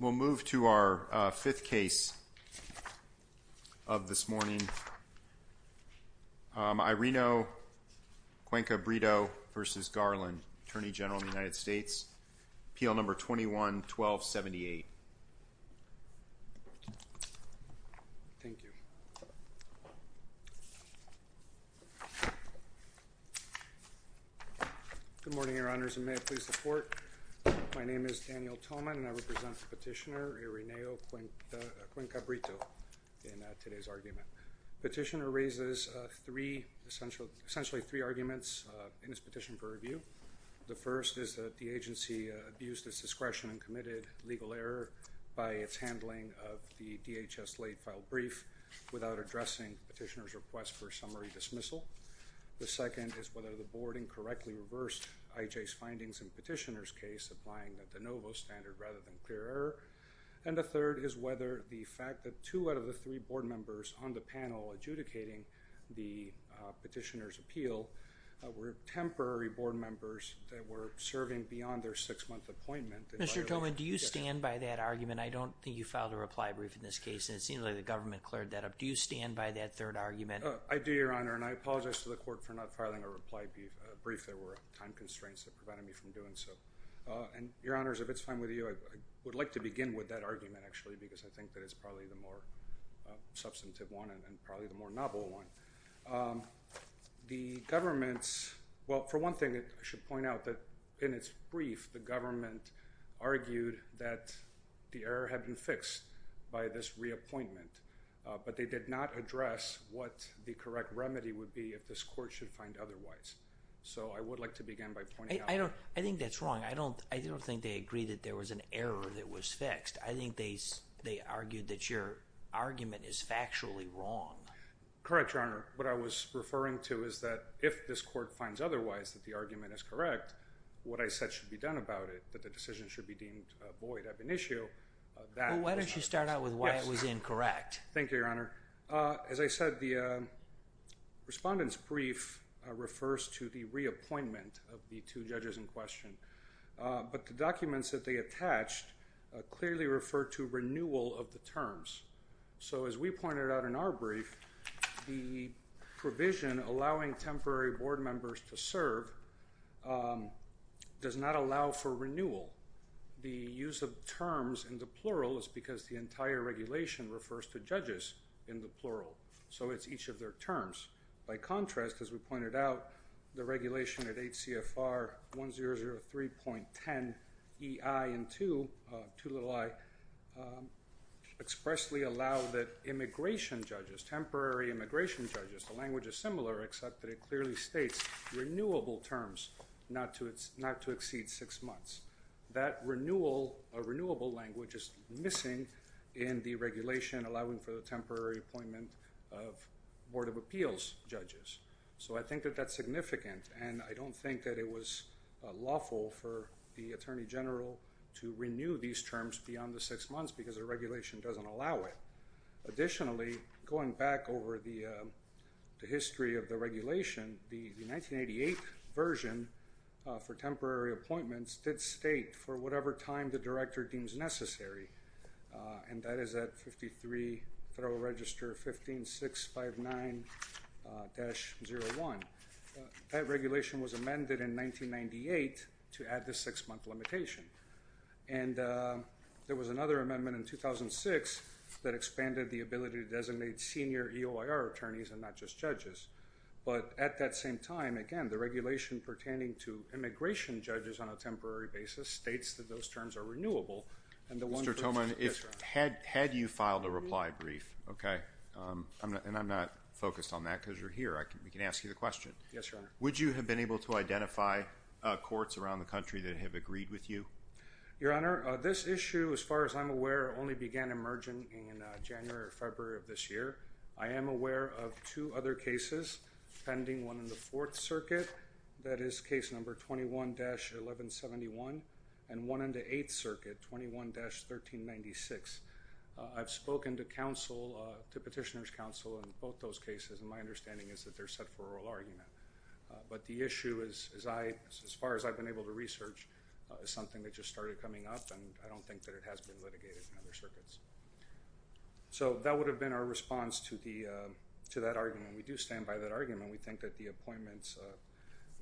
We'll move to our fifth case of this morning, Irineo Cuenca Brito v. Garland, Attorney General of the United States, PL No. 21-1278. Thank you. Good morning, Your Honors, and may it please the Court, my name is Daniel Tolman and I Irineo Cuenca Brito in today's argument. Petitioner raises essentially three arguments in his petition for review. The first is that the agency abused its discretion and committed legal error by its handling of the DHS late-filed brief without addressing Petitioner's request for summary dismissal. The second is whether the Board incorrectly reversed IJ's findings in Petitioner's case supplying the de novo standard rather than clear error. And the third is whether the fact that two out of the three Board members on the panel adjudicating the Petitioner's appeal were temporary Board members that were serving beyond their six-month appointment. Mr. Tolman, do you stand by that argument? I don't think you filed a reply brief in this case and it seems like the government cleared that up. Do you stand by that third argument? I do, Your Honor, and I apologize to the Court for not filing a reply brief. There were time constraints that prevented me from doing so. And Your Honor, if it's fine with you, I would like to begin with that argument, actually, because I think that it's probably the more substantive one and probably the more novel one. The government's—well, for one thing, I should point out that in its brief, the government argued that the error had been fixed by this reappointment, but they did not address what the correct remedy would be if this Court should find otherwise. So I would like to begin by pointing out— I think that's wrong. I don't think they agreed that there was an error that was fixed. I think they argued that your argument is factually wrong. Correct, Your Honor. What I was referring to is that if this Court finds otherwise that the argument is correct, what I said should be done about it, that the decision should be deemed void of an issue— Well, why don't you start out with why it was incorrect? Thank you, Your Honor. As I said, the respondent's brief refers to the reappointment of the two judges in question, but the documents that they attached clearly refer to renewal of the terms. So as we pointed out in our brief, the provision allowing temporary board members to serve does not allow for renewal. The use of terms in the plural is because the entire regulation refers to judges in the plural, so it's each of their terms. By contrast, as we pointed out, the regulation at 8 CFR 1003.10EI and 2, 2 little i, expressly allow that immigration judges, temporary immigration judges—the language is similar, except that it clearly states renewable terms, not to exceed six months. That renewal, a renewable language, is missing in the regulation allowing for the temporary appointment of Board of Appeals judges. So I think that that's significant, and I don't think that it was lawful for the Attorney General to renew these terms beyond the six months because the regulation doesn't allow it. Additionally, going back over the history of the regulation, the 1988 version for temporary appointments did state for whatever time the director deems necessary, and that is at 53 Federal Register 15659-01. That regulation was amended in 1998 to add the six-month limitation, and there was another amendment in 2006 that expanded the ability to designate senior EOIR attorneys and not just judges. But at that same time, again, the regulation pertaining to immigration judges on a temporary basis states that those terms are renewable, and the one— Mr. Thoman, had you filed a reply brief, okay—and I'm not focused on that because you're here—we can ask you the question. Yes, Your Honor. Would you have been able to identify courts around the country that have agreed with you? Your Honor, this issue, as far as I'm aware, only began emerging in January or February of this year. I am aware of two other cases pending, one in the Fourth Circuit, that is case number 21-1171, and one in the Eighth Circuit, 21-1396. I've spoken to counsel, to Petitioner's Counsel in both those cases, and my understanding is that they're set for oral argument. But the issue is, as far as I've been able to research, is something that just started coming up, and I don't think that it has been litigated in other circuits. So that would have been our response to that argument. We do stand by that argument. We think that the appointments,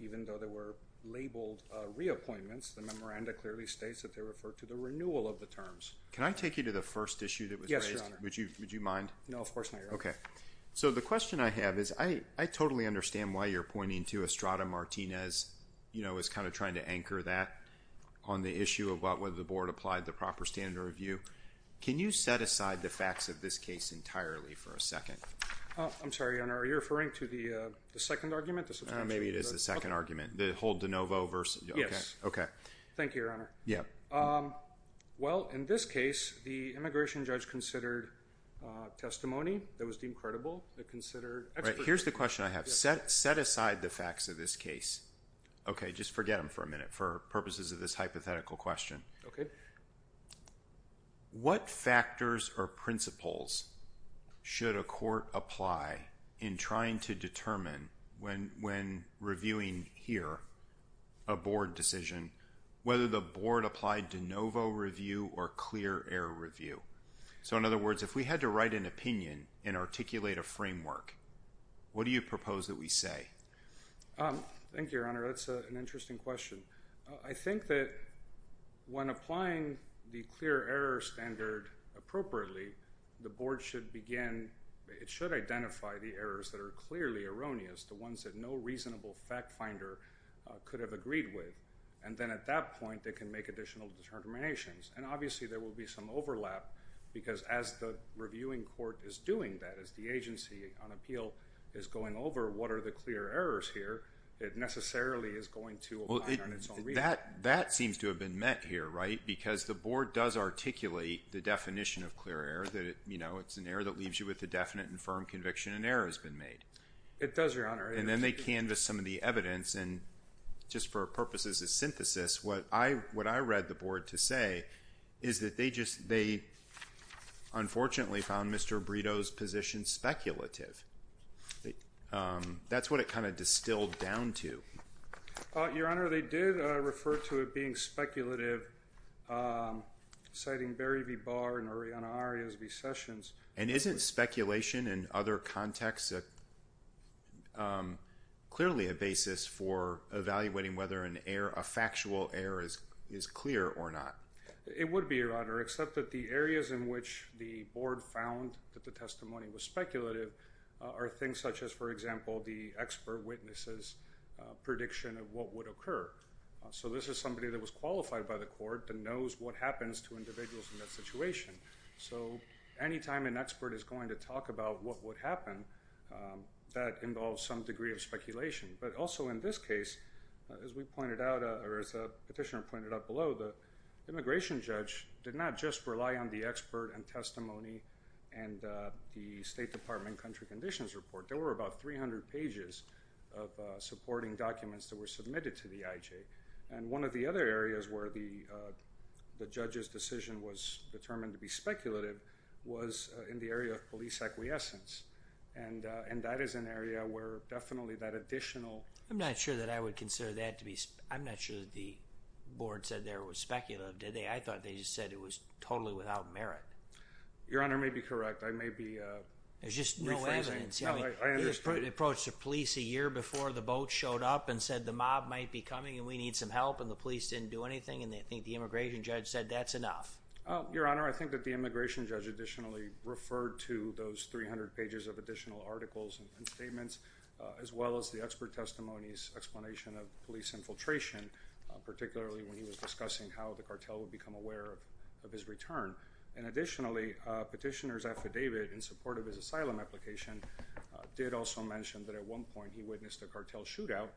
even though they were labeled reappointments, the memoranda clearly states that they refer to the renewal of the terms. Can I take you to the first issue that was raised? Yes, Your Honor. Would you mind? No, of course not, Your Honor. Okay. So the question I have is, I totally understand why you're pointing to Estrada-Martinez, you know, as kind of trying to anchor that on the issue of whether the Board applied the proper standard of review. Can you set aside the facts of this case entirely for a second? I'm sorry, Your Honor, are you referring to the second argument, the substantial? Maybe it is the second argument. The whole de novo versus, okay. Yes. Thank you, Your Honor. Yeah. Well, in this case, the immigration judge considered testimony that was deemed credible. It considered expert. Right. Here's the question I have. Set aside the facts of this case. Okay. Just forget them for a minute for purposes of this hypothetical question. Okay. What factors or principles should a court apply in trying to determine when reviewing here, a Board decision, whether the Board applied de novo review or clear error review? So in other words, if we had to write an opinion and articulate a framework, what do you propose that we say? Thank you, Your Honor. That's an interesting question. I think that when applying the clear error standard appropriately, the Board should begin, it should identify the errors that are clearly erroneous, the ones that no reasonable fact finder could have agreed with. And then at that point, they can make additional determinations. And obviously, there will be some overlap because as the reviewing court is doing that, as the agency on appeal is going over what are the clear errors here, it necessarily is going to apply on its own. That seems to have been met here, right? Because the Board does articulate the definition of clear error, that it's an error that leaves you with a definite and firm conviction an error has been made. It does, Your Honor. And then they canvass some of the evidence and just for purposes of synthesis, what I read the Board to say is that they just, they unfortunately found Mr. Brito's position speculative. That's what it kind of distilled down to. Your Honor, they did refer to it being speculative, citing Barry v. Barr and Arianna Arias v. Sessions. And isn't speculation in other contexts clearly a basis for evaluating whether an error, a factual error is clear or not? It would be, Your Honor, except that the areas in which the Board found that the testimony was speculative are things such as, for example, the expert witness's prediction of what would occur. So this is somebody that was qualified by the court that knows what happens to individuals in that situation. So anytime an expert is going to talk about what would happen, that involves some degree of speculation. But also in this case, as we pointed out or as the petitioner pointed out below, the immigration judge did not just rely on the expert and testimony and the State Department country conditions report. There were about 300 pages of supporting documents that were submitted to the IJ. And one of the other areas where the judge's decision was determined to be speculative was in the area of police acquiescence. And that is an area where definitely that additional... I'm not sure that I would consider that to be... I'm not sure that the Board said there was speculative, did they? I thought they just said it was totally without merit. Your Honor may be correct. I may be... There's just no evidence. No, I understand. He approached the police a year before the boat showed up and said the mob might be coming and we need some help. And the police didn't do anything. And I think the immigration judge said that's enough. Your Honor, I think that the immigration judge additionally referred to those 300 pages of additional articles and statements, as well as the expert testimony's explanation of police infiltration, particularly when he was discussing how the cartel would become aware of his return. And additionally, petitioner's affidavit in support of his asylum application did also mention that at one point he witnessed a cartel shootout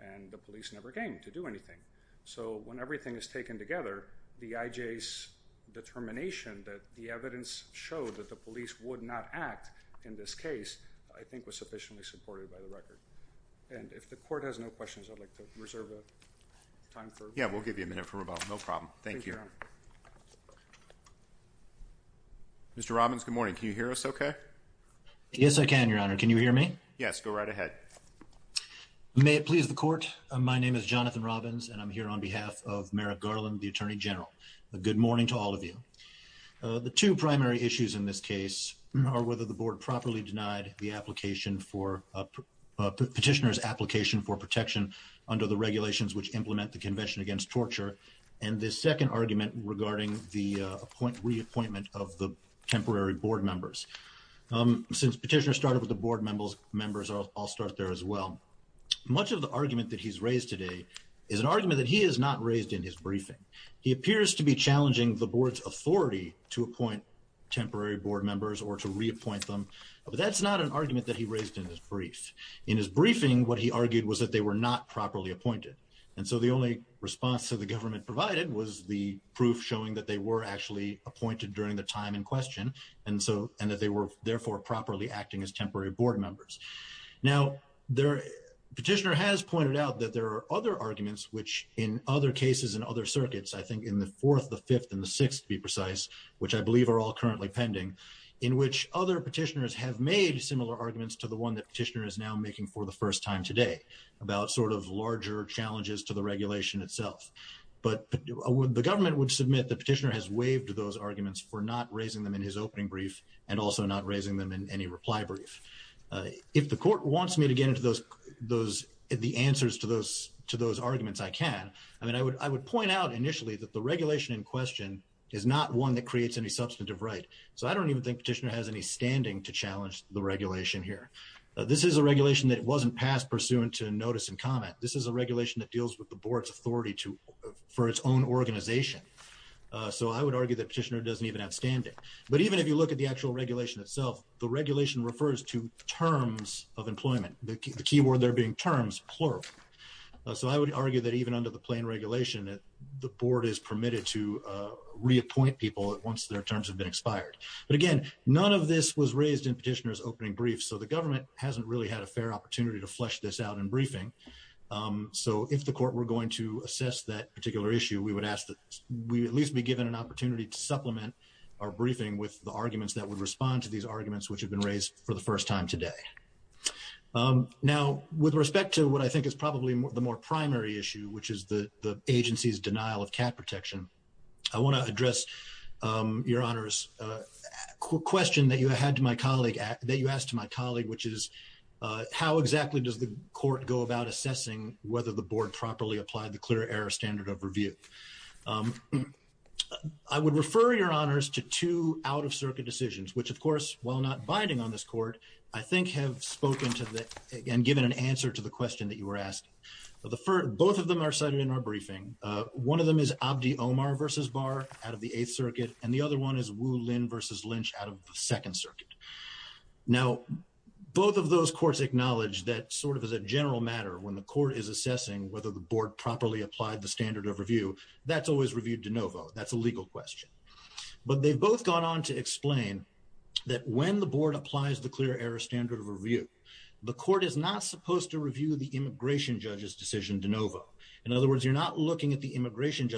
and the police never came to do anything. So, when everything is taken together, the IJ's determination that the evidence showed that the police would not act in this case, I think was sufficiently supported by the record. And if the Court has no questions, I'd like to reserve time for... Yeah, we'll give you a minute for rebuttal. No problem. Thank you. Thank you, Your Honor. Mr. Robbins, good morning. Yes, I can, Your Honor. Can you hear me? Yes, I can. Yes, go right ahead. May it please the Court. My name is Jonathan Robbins, and I'm here on behalf of Merrick Garland, the Attorney General. Good morning to all of you. The two primary issues in this case are whether the Board properly denied the petitioner's application for protection under the regulations which implement the Convention Against Torture, and the second argument regarding the reappointment of the temporary Board members. Since petitioner started with the Board members, I'll start there as well. Much of the argument that he's raised today is an argument that he has not raised in his briefing. He appears to be challenging the Board's authority to appoint temporary Board members or to reappoint them, but that's not an argument that he raised in his brief. In his briefing, what he argued was that they were not properly appointed, and so the only response that the government provided was the proof showing that they were actually that they were therefore properly acting as temporary Board members. Now the petitioner has pointed out that there are other arguments, which in other cases and other circuits, I think in the Fourth, the Fifth, and the Sixth to be precise, which I believe are all currently pending, in which other petitioners have made similar arguments to the one that petitioner is now making for the first time today about sort of larger challenges to the regulation itself. But the government would submit the petitioner has waived those arguments for not raising them in his opening brief and also not raising them in any reply brief. If the court wants me to get into the answers to those arguments, I can, and I would point out initially that the regulation in question is not one that creates any substantive right, so I don't even think petitioner has any standing to challenge the regulation here. This is a regulation that wasn't passed pursuant to notice and comment. This is a regulation that deals with the Board's authority for its own organization, so I would argue that petitioner doesn't even have standing. But even if you look at the actual regulation itself, the regulation refers to terms of employment, the key word there being terms, plural. So I would argue that even under the plain regulation, the Board is permitted to reappoint people once their terms have been expired. But again, none of this was raised in petitioner's opening brief, so the government hasn't really had a fair opportunity to flesh this out in briefing. So if the court were going to assess that particular issue, we would ask that we at least be given an opportunity to supplement our briefing with the arguments that would respond to these arguments which have been raised for the first time today. Now with respect to what I think is probably the more primary issue, which is the agency's denial of cat protection, I want to address your Honor's question that you asked my colleague, which is how exactly does the court go about assessing whether the Board properly applied the Clear Error Standard of Review? I would refer your Honors to two out-of-circuit decisions, which of course, while not binding on this Court, I think have spoken to and given an answer to the question that you were asking. Both of them are cited in our briefing. One of them is Abdi Omar v. Barr out of the Eighth Circuit, and the other one is Wu Lin v. Lynch out of the Second Circuit. Now both of those courts acknowledge that sort of as a general matter, when the Court is assessing whether the Board properly applied the Standard of Review, that's always reviewed de novo. That's a legal question. But they've both gone on to explain that when the Board applies the Clear Error Standard of Review, the Court is not supposed to review the immigration judge's decision de novo. In other words, you're not looking at the immigration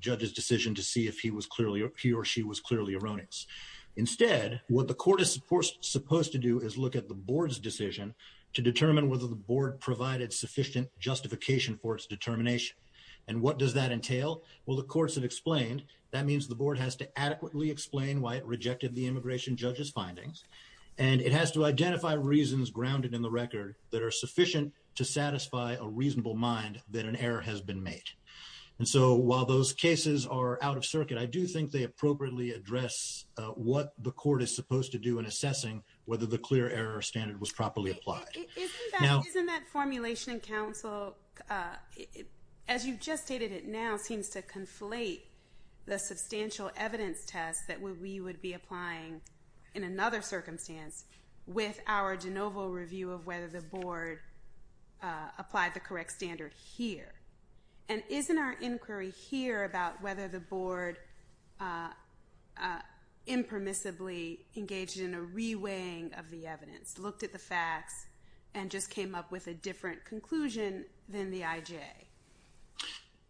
judge's decision to see if he or she was clearly erroneous. Instead, what the Court is supposed to do is look at the Board's decision to determine whether the Board provided sufficient justification for its determination. And what does that entail? Well, the courts have explained, that means the Board has to adequately explain why it rejected the immigration judge's findings, and it has to identify reasons grounded in the record that are sufficient to satisfy a reasonable mind that an error has been made. And so while those cases are out of circuit, I do think they appropriately address what the Court is supposed to do in assessing whether the Clear Error Standard was properly applied. Isn't that formulation in counsel, as you just stated it now, seems to conflate the substantial evidence test that we would be applying in another circumstance with our de novo review of whether the Board applied the correct standard here? And isn't our inquiry here about whether the Board impermissibly engaged in a re-weighing of the evidence, looked at the facts, and just came up with a different conclusion than the IJ?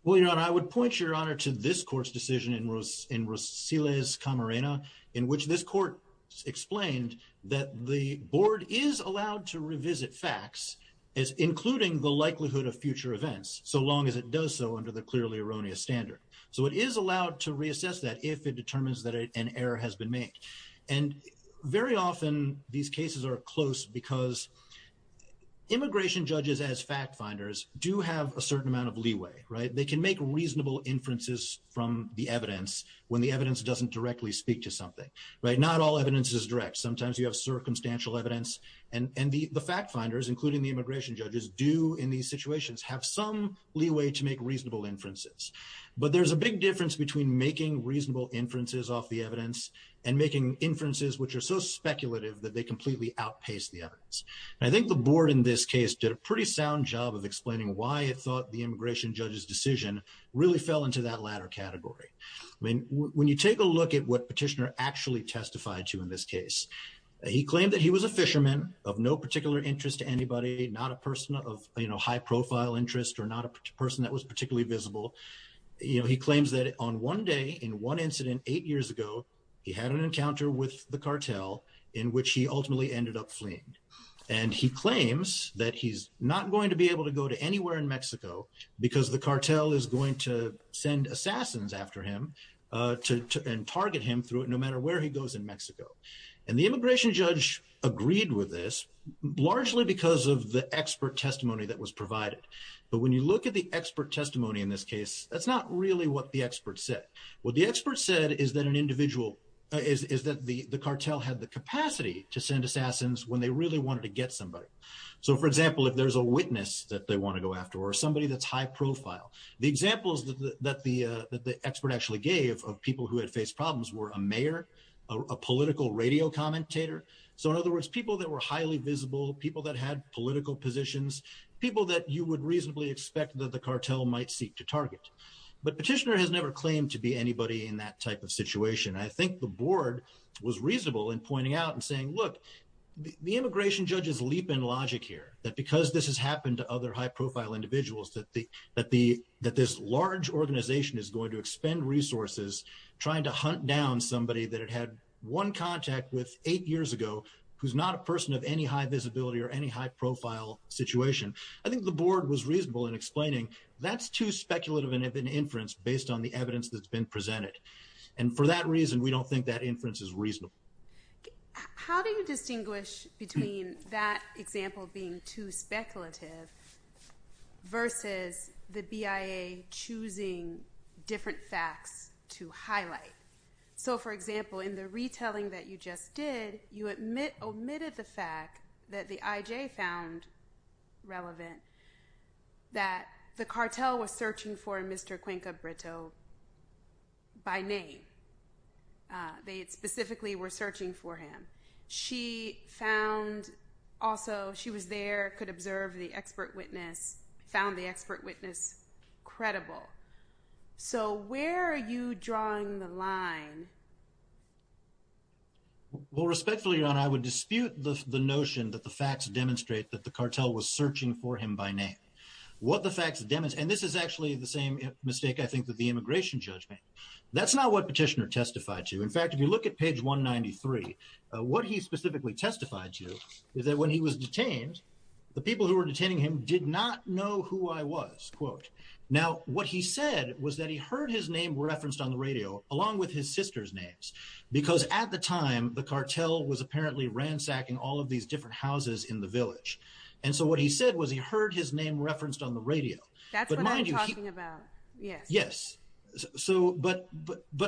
Well, Your Honor, I would point Your Honor to this Court's decision in Rosiles Camarena, in which this Court explained that the Board is allowed to revisit facts, including the likelihood of future events, so long as it does so under the Clearly Erroneous Standard. So it is allowed to reassess that if it determines that an error has been made. And very often, these cases are close because immigration judges as fact-finders do have a certain amount of leeway, right? They can make reasonable inferences from the evidence when the evidence doesn't directly speak to something, right? Not all evidence is direct. Sometimes you have circumstantial evidence, and the fact-finders, including the immigration judges, do in these situations have some leeway to make reasonable inferences. But there's a big difference between making reasonable inferences off the evidence and making inferences which are so speculative that they completely outpace the evidence. I think the Board in this case did a pretty sound job of explaining why it thought the immigration judge's decision really fell into that latter category. When you take a look at what Petitioner actually testified to in this case, he claimed that he was a fisherman of no particular interest to anybody, not a person of high-profile interest or not a person that was particularly visible. He claims that on one day in one incident eight years ago, he had an encounter with the cartel in which he ultimately ended up fleeing. And he claims that he's not going to be able to go to anywhere in Mexico because the cartel is going to send assassins after him and target him through it no matter where he goes in Mexico. And the immigration judge agreed with this largely because of the expert testimony that was provided. But when you look at the expert testimony in this case, that's not really what the expert said. What the expert said is that an individual is that the cartel had the capacity to send assassins when they really wanted to get somebody. So for example, if there's a witness that they want to go after or somebody that's high-profile, the examples that the expert actually gave of people who had faced problems were a mayor, a political radio commentator. So in other words, people that were highly visible, people that had political positions, people that you would reasonably expect that the cartel might seek to target. But Petitioner has never claimed to be anybody in that type of situation. I think the board was reasonable in pointing out and saying, look, the immigration judges leap in logic here, that because this has happened to other high-profile individuals, that this large organization is going to expend resources trying to hunt down somebody that it had one contact with eight years ago, who's not a person of any high visibility or any high-profile situation. I think the board was reasonable in explaining that's too speculative of an inference based on the evidence that's been presented. And for that reason, we don't think that inference is reasonable. How do you distinguish between that example being too speculative versus the BIA choosing different facts to highlight? So for example, in the retelling that you just did, you omitted the fact that the I.J. found relevant that the cartel was searching for Mr. Cuenca Brito by name. They specifically were searching for him. She found also, she was there, could observe the expert witness, found the expert witness credible. So where are you drawing the line? Well, respectfully, Your Honor, I would dispute the notion that the facts demonstrate that the cartel was searching for him by name. What the facts demonstrate, and this is actually the same mistake, I think, that the immigration judge made. That's not what Petitioner testified to. In fact, if you look at page 193, what he specifically testified to is that when he was detained, the people who were detaining him did not know who I was. Now, what he said was that he heard his name referenced on the radio, along with his sister's names, because at the time, the cartel was apparently ransacking all of these different houses in the village. And so what he said was he heard his name referenced on the radio. That's what I'm talking about, yes. Yes. So, but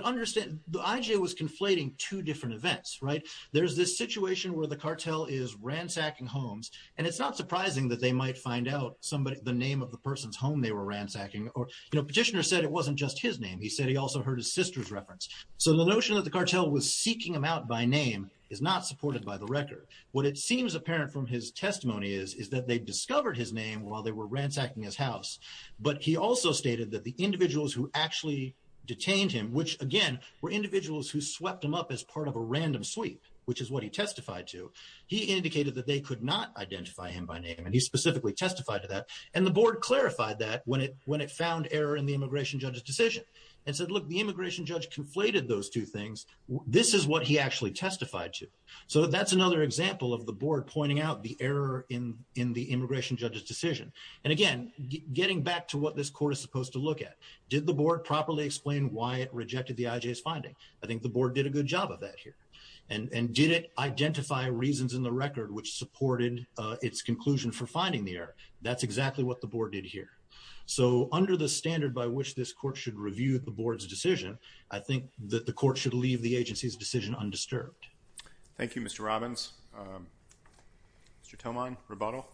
understand, the I.J. was conflating two different events, right? There's this situation where the cartel is ransacking homes, and it's not surprising that they might find out the name of the person's home they were ransacking. Petitioner said it wasn't just his name. He said he also heard his sister's reference. So the notion that the cartel was seeking him out by name is not supported by the record. What it seems apparent from his testimony is, is that they discovered his name while they were ransacking his house. But he also stated that the individuals who actually detained him, which again, were individuals who swept him up as part of a random sweep, which is what he testified to, he indicated that they could not identify him by name, and he specifically testified to that. And the board clarified that when it, when it found error in the immigration judge's decision and said, look, the immigration judge conflated those two things. This is what he actually testified to. So that's another example of the board pointing out the error in, in the immigration judge's decision. And again, getting back to what this court is supposed to look at, did the board properly explain why it rejected the I.J.'s finding? I think the board did a good job of that here. And did it identify reasons in the record which supported its conclusion for finding the error? That's exactly what the board did here. So under the standard by which this court should review the board's decision, I think that the court should leave the agency's decision undisturbed. Thank you, Mr. Robbins. Mr. Toman, rebuttal.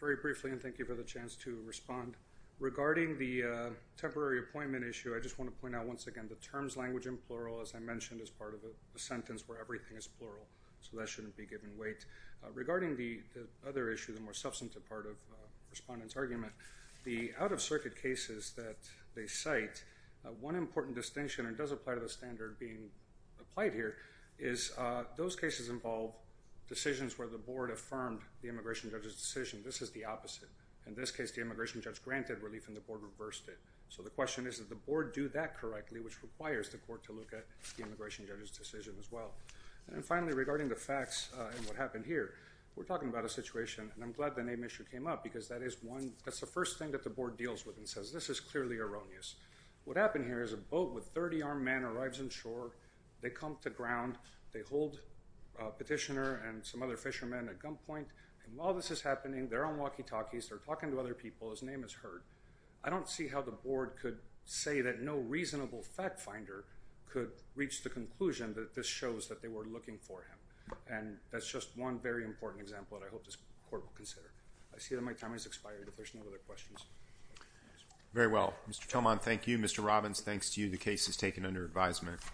Very briefly, and thank you for the chance to respond. Regarding the temporary appointment issue, I just want to point out once again, the terms language and plural, as I mentioned, is part of a sentence where everything is plural. So that shouldn't be given weight. Regarding the other issue, the more substantive part of the respondent's argument, the out-of-circuit cases that they cite, one important distinction, and it does apply to the standard being applied here, is those cases involve decisions where the board affirmed the immigration judge's decision. This is the opposite. In this case, the immigration judge granted relief and the board reversed it. So the question is, did the board do that correctly, which requires the court to look at the immigration judge's decision as well? And finally, regarding the facts and what happened here, we're talking about a situation, and I'm glad the name issue came up because that is one, that's the first thing that the board says, this is clearly erroneous. What happened here is a boat with 30 armed men arrives on shore, they come to ground, they hold a petitioner and some other fishermen at gunpoint, and while this is happening, they're on walkie-talkies, they're talking to other people, his name is heard. I don't see how the board could say that no reasonable fact finder could reach the conclusion that this shows that they were looking for him. And that's just one very important example that I hope this court will consider. I see that my time has expired, if there's no other questions. Very well. Mr. Tomon, thank you. Mr. Robbins, thanks to you, the case is taken under advisement.